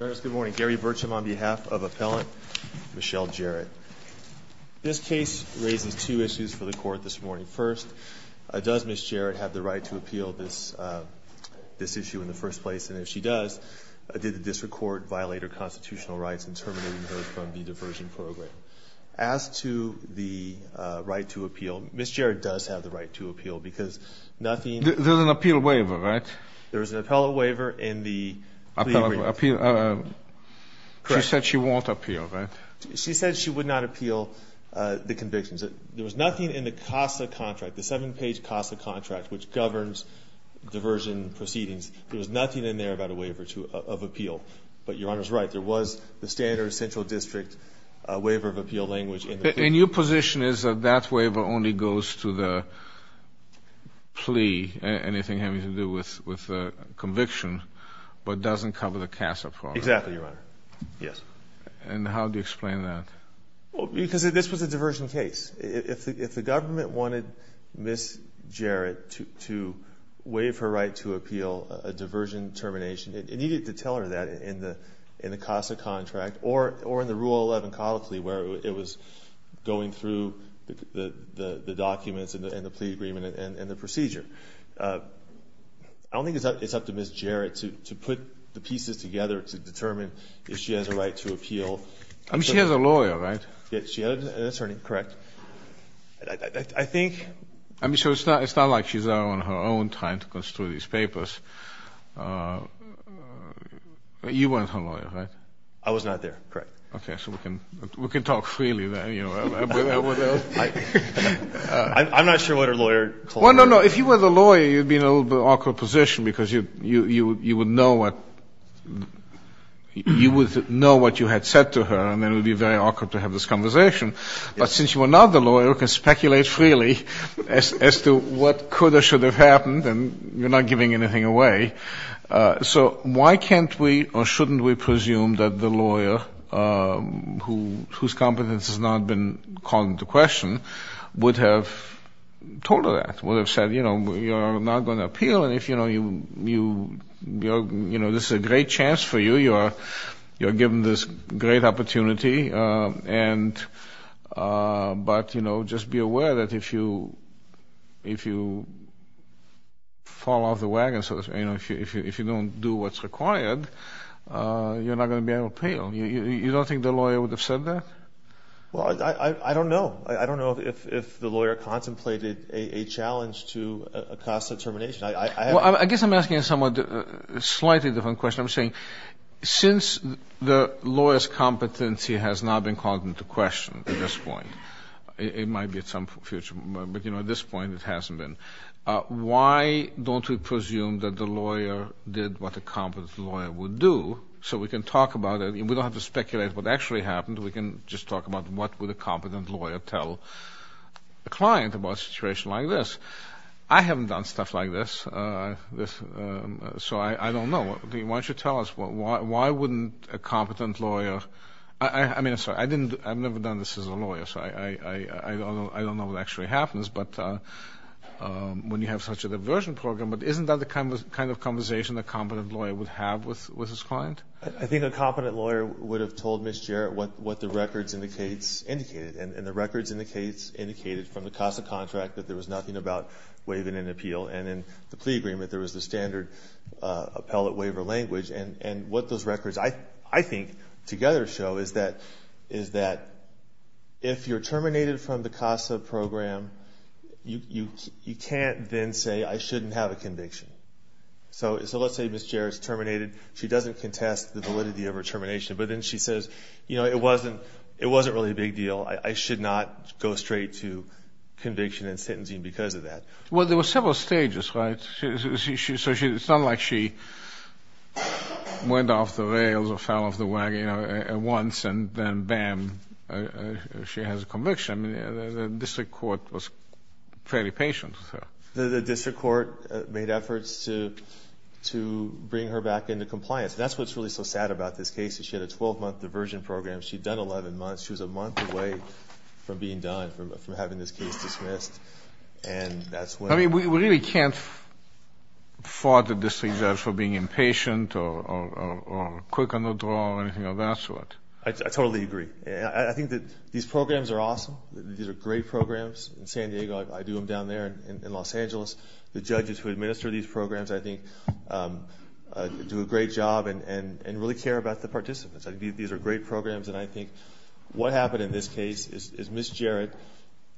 This case raises two issues for the court this morning. First, does Ms. Jarrett have the right to appeal this issue in the first place? And if she does, did the district court violate her constitutional rights in terminating her from the diversion program? As to the right to appeal, Ms. Jarrett does have the right to appeal because nothing— There's an appeal waiver, right? There's an appellate waiver in the plea agreement. She said she won't appeal, right? She said she would not appeal the convictions. There was nothing in the CASA contract, the seven-page CASA contract, which governs diversion proceedings. There was nothing in there about a waiver of appeal. But Your Honor's right. There was the standard central district waiver of appeal language in the plea. And your position is that that waiver only goes to the plea, anything having to do with conviction, but doesn't cover the CASA program? Exactly, Your Honor. Yes. And how do you explain that? Because this was a diversion case. If the government wanted Ms. Jarrett to waive her right to appeal a diversion termination, it needed to tell her that in the CASA contract or in the Rule 11 colloquy where it was going through the documents and the plea agreement and the procedure. I don't think it's up to Ms. Jarrett to put the pieces together to determine if she has a right to appeal. I mean, she has a lawyer, right? Yes, she has. That's her name. Correct. I think... I mean, so it's not like she's on her own time to construe these papers. You weren't her lawyer, right? I was not there. Correct. Okay. So we can talk freely then. I'm not sure what her lawyer told me. Well, no, no. If you were the lawyer, you'd be in a little bit of an awkward position because you would know what you had said to her, and then it would be very awkward to have this conversation. But since you are not the lawyer, we can speculate freely as to what could or should have happened, and you're not giving anything away. So why can't we or shouldn't we presume that the lawyer, whose competence has not been called into question, would have told her that, would have said, you know, you're not going to appeal, and if you know you're, you know, this is a great chance for you, you are given this great opportunity, but, you know, just be aware that if you fall off the wagon, so to speak, you know, if you don't do what's required, you're not going to be able to appeal. You don't think the lawyer would have said that? Well, I don't know. I don't know if the lawyer contemplated a challenge to a cost determination. Well, I guess I'm asking a somewhat slightly different question. I'm saying since the lawyer's competency has not been called into question at this point, it might be at some future, but, you know, at this point it hasn't been, why don't we presume that the lawyer did what a competent lawyer would do so we can talk about it, and we don't have to speculate what actually happened. We can just talk about what would a competent lawyer tell a client about a situation like this. I haven't done stuff like this, so I don't know. Why don't you tell us, why wouldn't a competent lawyer, I mean, I'm sorry, I've never done this as a lawyer, so I don't know what actually happens when you have such a diversion program, but isn't that the kind of conversation a competent lawyer would have with his client? I think a competent lawyer would have told Ms. Jarrett what the records indicated, and the records indicated from the CASA contract that there was nothing about waiving an appeal, and in the plea agreement there was the standard appellate waiver language, and what those records, I think, together show is that if you're terminated from the CASA program, you can't then say I shouldn't have a conviction. So let's say Ms. Jarrett's terminated. She doesn't contest the validity of her termination, but then she says, you know, it wasn't really a big deal. I should not go straight to conviction and sentencing because of that. Well, there were several stages, right? So it's not like she went off the rails or fell off the wagon at once and then, bam, she has a conviction. The district court was fairly patient with her. The district court made efforts to bring her back into compliance. That's what's really so sad about this case is she had a 12-month diversion program. She'd done 11 months. She was a month away from being done, from having this case dismissed. And that's when... I mean, we really can't fault the district judge for being impatient or quick on the draw or anything of that sort. I totally agree. I think that these programs are awesome. These are great programs in San Diego. I do them down there in Los Angeles. The judges who administer these programs, I think, do a great job and really care about the participants. These are great programs, and I think what happened in this case is Ms. Jarrett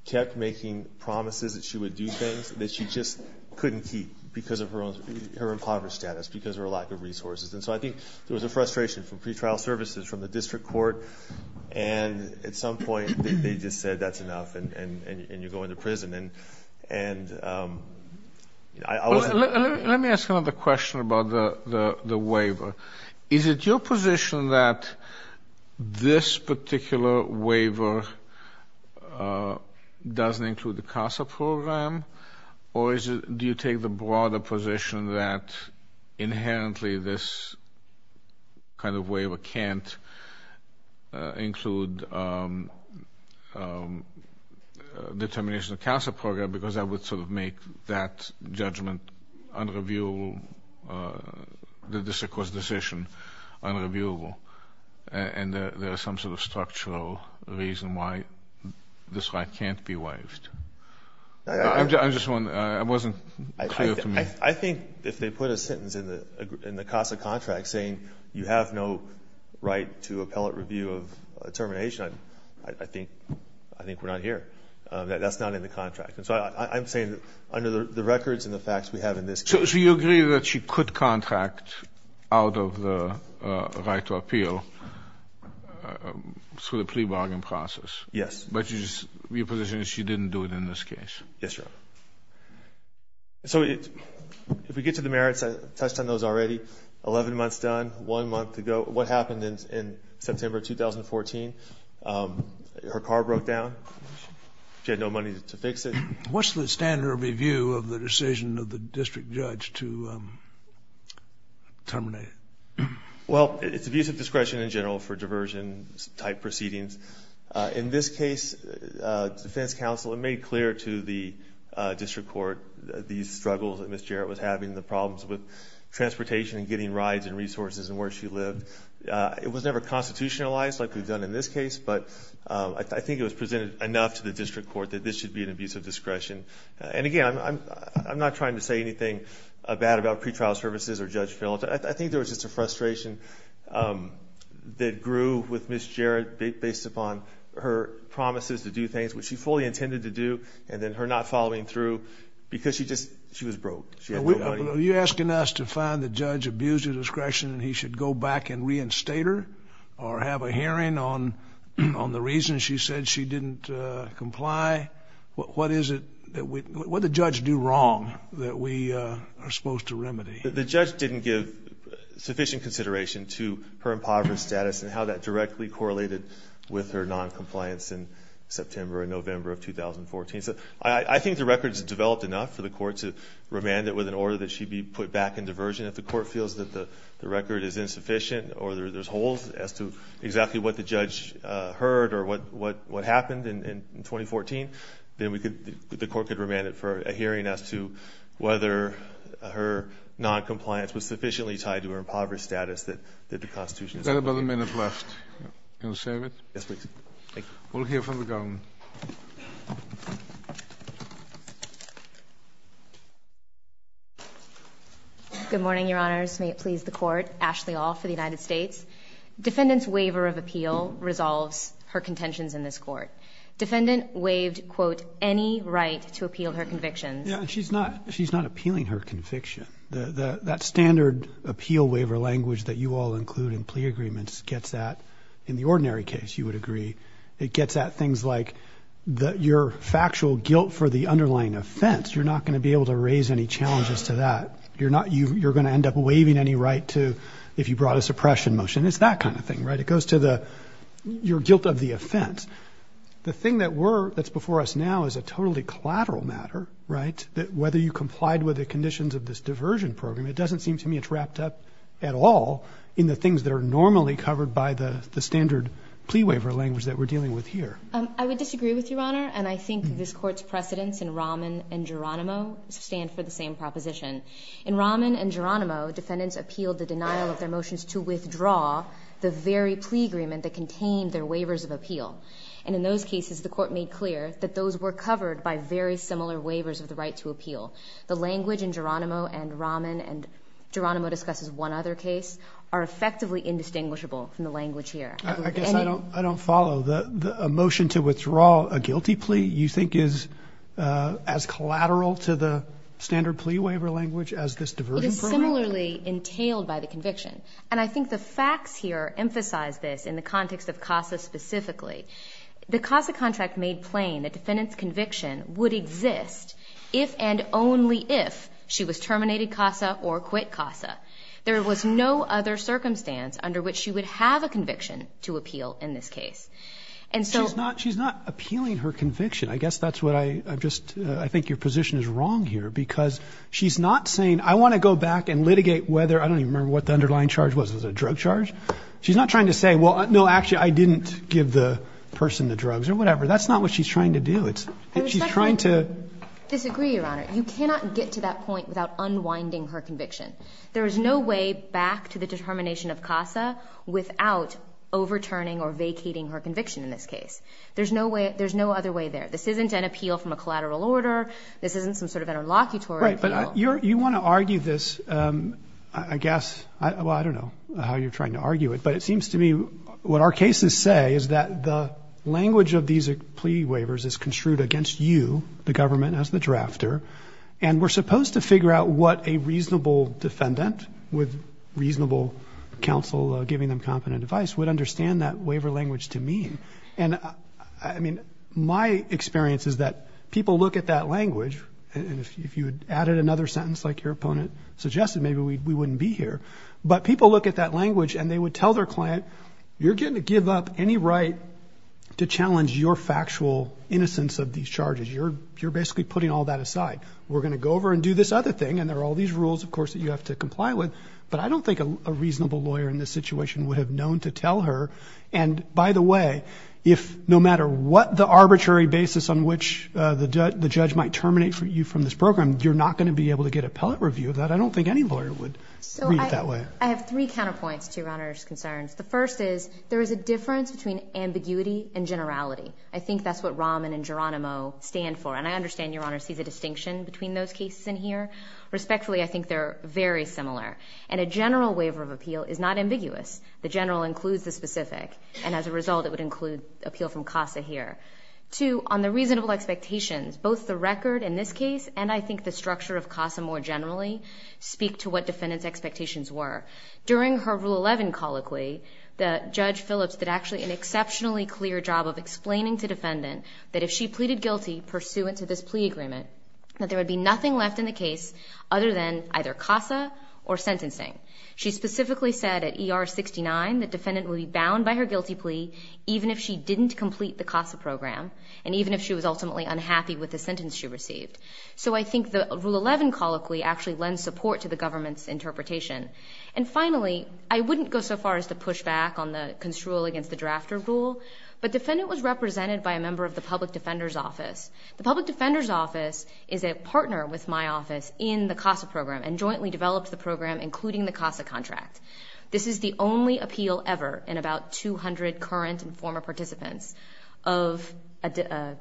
kept making promises that she would do things that she just couldn't keep because of her impoverished status, because of her lack of resources. And so I think there was a frustration from pretrial services, from the district court, and at some point they just said that's enough and you go into prison. And I wasn't... Let me ask another question about the waiver. Is it your position that this particular waiver doesn't include the CASA program, or do you take the broader position that inherently this kind of waiver can't include determination of the CASA program because that would sort of make that judgment unreviewable, the district court's decision unreviewable, and there is some sort of structural reason why this right can't be waived? I'm just wondering. It wasn't clear to me. I think if they put a sentence in the CASA contract saying you have no right to appellate review of determination, I think we're not here. That's not in the contract. And so I'm saying under the records and the facts we have in this case... So you agree that she could contract out of the right to appeal through the plea bargain process? Yes. But your position is she didn't do it in this case? Yes, Your Honor. So if we get to the merits, I touched on those already. Eleven months done, one month to go. What happened in September of 2014, her car broke down. She had no money to fix it. What's the standard of review of the decision of the district judge to terminate? Well, it's abuse of discretion in general for diversion-type proceedings. In this case, the defense counsel made clear to the district court these struggles that Ms. Jarrett was having, the problems with transportation and getting rides and resources and where she lived. It was never constitutionalized like we've done in this case, but I think it was presented enough to the district court that this should be an abuse of discretion. And, again, I'm not trying to say anything bad about pretrial services or judge felons. I think there was just a frustration that grew with Ms. Jarrett based upon her promises to do things, which she fully intended to do, and then her not following through because she was broke. Are you asking us to find the judge abused of discretion and he should go back and reinstate her or have a hearing on the reason she said she didn't comply? What is it that we – what did the judge do wrong that we are supposed to remedy? The judge didn't give sufficient consideration to her impoverished status and how that directly correlated with her noncompliance in September and November of 2014. I think the record is developed enough for the court to remand it with an order that she be put back in diversion. If the court feels that the record is insufficient or there's holes as to exactly what the judge heard or what happened in 2014, then we could – the court could remand it for a hearing as to whether her noncompliance was sufficiently tied to her impoverished status that the Constitution – We've got about a minute left. Yes, please. Thank you. We'll hear from the government. Good morning, Your Honors. May it please the Court. Ashley All for the United States. Defendant's waiver of appeal resolves her contentions in this court. Defendant waived, quote, any right to appeal her convictions. Yeah, and she's not – she's not appealing her conviction. That standard appeal waiver language that you all include in plea agreements gets that. In the ordinary case, you would agree, it gets at things like your factual guilt for the underlying offense. You're not going to be able to raise any challenges to that. You're not – you're going to end up waiving any right to – if you brought a suppression motion. It's that kind of thing, right? It goes to the – your guilt of the offense. The thing that we're – that's before us now is a totally collateral matter, right, that whether you complied with the conditions of this diversion program, it doesn't seem to me it's wrapped up at all in the things that are normally covered by the standard plea waiver language that we're dealing with here. I would disagree with you, Your Honor. And I think this Court's precedents in Rahman and Geronimo stand for the same proposition. In Rahman and Geronimo, defendants appealed the denial of their motions to withdraw the very plea agreement that contained their waivers of appeal. And in those cases, the Court made clear that those were covered by very similar waivers of the right to appeal. The language in Geronimo and Rahman, and Geronimo discusses one other case, are effectively indistinguishable from the language here. I guess I don't follow. A motion to withdraw a guilty plea you think is as collateral to the standard plea waiver language as this diversion program? It is similarly entailed by the conviction. And I think the facts here emphasize this in the context of CASA specifically. The CASA contract made plain the defendant's conviction would exist if and only if she was terminated CASA or quit CASA. There was no other circumstance under which she would have a conviction to appeal in this case. And so ---- She's not appealing her conviction. I guess that's what I just ---- I think your position is wrong here, because she's not saying, I want to go back and litigate whether ---- I don't even remember what the underlying charge was. Was it a drug charge? She's not trying to say, well, no, actually, I didn't give the person the drugs or whatever. That's not what she's trying to do. She's trying to ---- I respectfully disagree, Your Honor. You cannot get to that point without unwinding her conviction. There is no way back to the determination of CASA without overturning or vacating her conviction in this case. There's no other way there. This isn't an appeal from a collateral order. This isn't some sort of interlocutory appeal. All right. But you want to argue this, I guess, well, I don't know how you're trying to argue it, but it seems to me what our cases say is that the language of these plea waivers is construed against you, the government, as the drafter, and we're supposed to figure out what a reasonable defendant with reasonable counsel giving them competent advice would understand that waiver language to mean. And, I mean, my experience is that people look at that language, and if you would have added another sentence like your opponent suggested, maybe we wouldn't be here. But people look at that language, and they would tell their client, you're getting to give up any right to challenge your factual innocence of these charges. You're basically putting all that aside. We're going to go over and do this other thing, and there are all these rules, of course, that you have to comply with. But I don't think a reasonable lawyer in this situation would have known to tell her. And, by the way, if no matter what the arbitrary basis on which the judge might terminate you from this program, you're not going to be able to get appellate review of that. I don't think any lawyer would read it that way. So I have three counterpoints to Your Honor's concerns. The first is there is a difference between ambiguity and generality. I think that's what Rahman and Geronimo stand for. And I understand Your Honor sees a distinction between those cases in here. Respectfully, I think they're very similar. And a general waiver of appeal is not ambiguous. The general includes the specific, and as a result, it would include appeal from CASA here. Two, on the reasonable expectations, both the record in this case and, I think, the structure of CASA more generally speak to what defendant's expectations were. During her Rule 11 colloquy, Judge Phillips did actually an exceptionally clear job of explaining to defendant that if she pleaded guilty pursuant to this plea agreement, that there would be nothing left in the case other than either CASA or sentencing. She specifically said at ER 69 that defendant would be bound by her guilty plea even if she didn't complete the CASA program and even if she was ultimately unhappy with the sentence she received. So I think the Rule 11 colloquy actually lends support to the government's interpretation. And finally, I wouldn't go so far as to push back on the construal against the drafter rule, but defendant was represented by a member of the public defender's office. The public defender's office is a partner with my office in the CASA program and jointly developed the program, including the CASA contract. This is the only appeal ever in about 200 current and former participants of a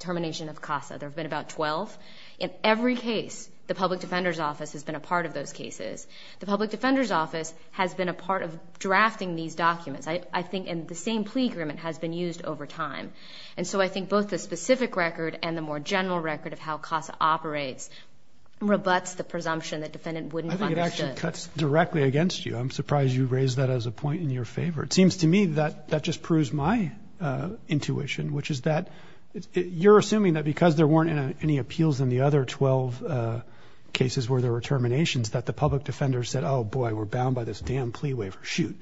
termination of CASA. There have been about 12. In every case, the public defender's office has been a part of those cases. The public defender's office has been a part of drafting these documents. I think the same plea agreement has been used over time. And so I think both the specific record and the more general record of how CASA operates rebuts the presumption that defendant wouldn't have understood. I think it actually cuts directly against you. I'm surprised you raised that as a point in your favor. It seems to me that that just proves my intuition, which is that you're assuming that because there weren't any appeals in the other 12 cases where there were terminations that the public defender said, oh, boy, we're bound by this damn plea waiver. Shoot.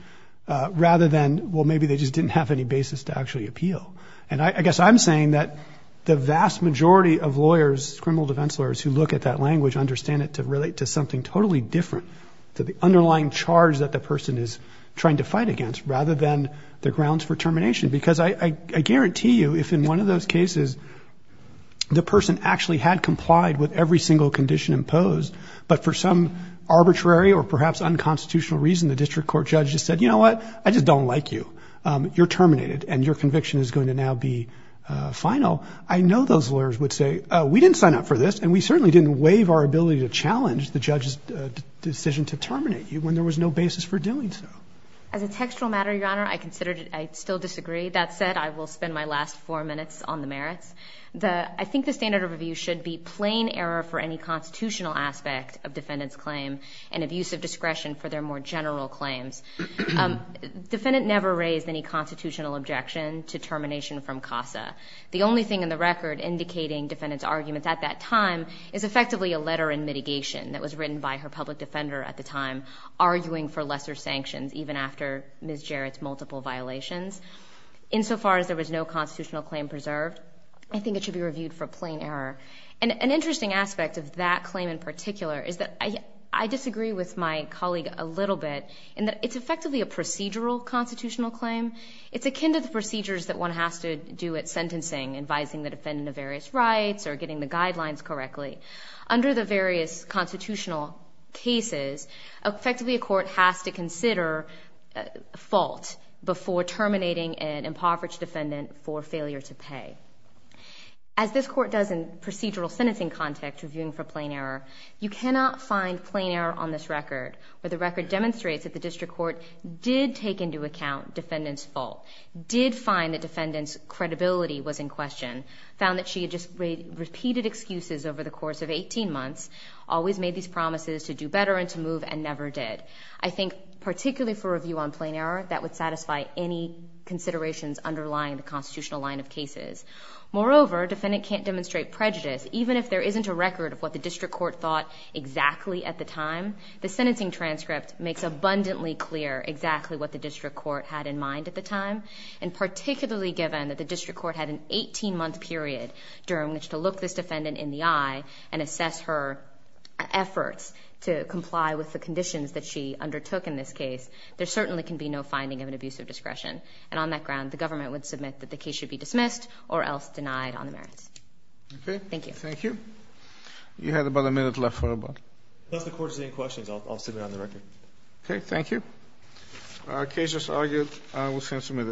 Rather than, well, maybe they just didn't have any basis to actually appeal. And I guess I'm saying that the vast majority of lawyers, criminal defense lawyers who look at that language understand it to relate to something totally different to the underlying charge that the person is trying to fight against rather than the grounds for termination. Because I guarantee you if in one of those cases the person actually had complied with every single condition imposed, but for some arbitrary or perhaps unconstitutional reason the district court judge just said, you know what, I just don't like you. You're terminated and your conviction is going to now be final. I know those lawyers would say, oh, we didn't sign up for this and we didn't make the decision to terminate you when there was no basis for doing so. As a textual matter, Your Honor, I considered it. I still disagree. That said, I will spend my last four minutes on the merits. I think the standard of review should be plain error for any constitutional aspect of defendant's claim and abuse of discretion for their more general claims. Defendant never raised any constitutional objection to termination from CASA. The only thing in the record indicating defendant's argument at that time is effectively a letter in mitigation that was written by her public defender at the time arguing for lesser sanctions even after Ms. Jarrett's multiple violations. Insofar as there was no constitutional claim preserved, I think it should be reviewed for plain error. An interesting aspect of that claim in particular is that I disagree with my colleague a little bit in that it's effectively a procedural constitutional claim. It's akin to the procedures that one has to do at sentencing, advising the defendant of various rights or getting the guidelines correctly. Under the various constitutional cases, effectively a court has to consider fault before terminating an impoverished defendant for failure to pay. As this court does in procedural sentencing context reviewing for plain error, you cannot find plain error on this record where the record demonstrates that the district court did take into account defendant's fault, did find that defendant's credibility was in question, found that she had just repeated excuses over the course of 18 months, always made these promises to do better and to move and never did. I think particularly for review on plain error, that would satisfy any considerations underlying the constitutional line of cases. Moreover, defendant can't demonstrate prejudice even if there isn't a record of what the district court thought exactly at the time. The sentencing transcript makes abundantly clear exactly what the district court had in mind at the time and particularly given that the district court had an 18-month period during which to look this defendant in the eye and assess her efforts to comply with the conditions that she undertook in this case. There certainly can be no finding of an abuse of discretion. And on that ground, the government would submit that the case should be dismissed or else denied on the merits. Thank you. Thank you. You had about a minute left for a vote. If the court has any questions, I'll submit it on the record. Okay. Thank you. Our case has argued. I will send it to you.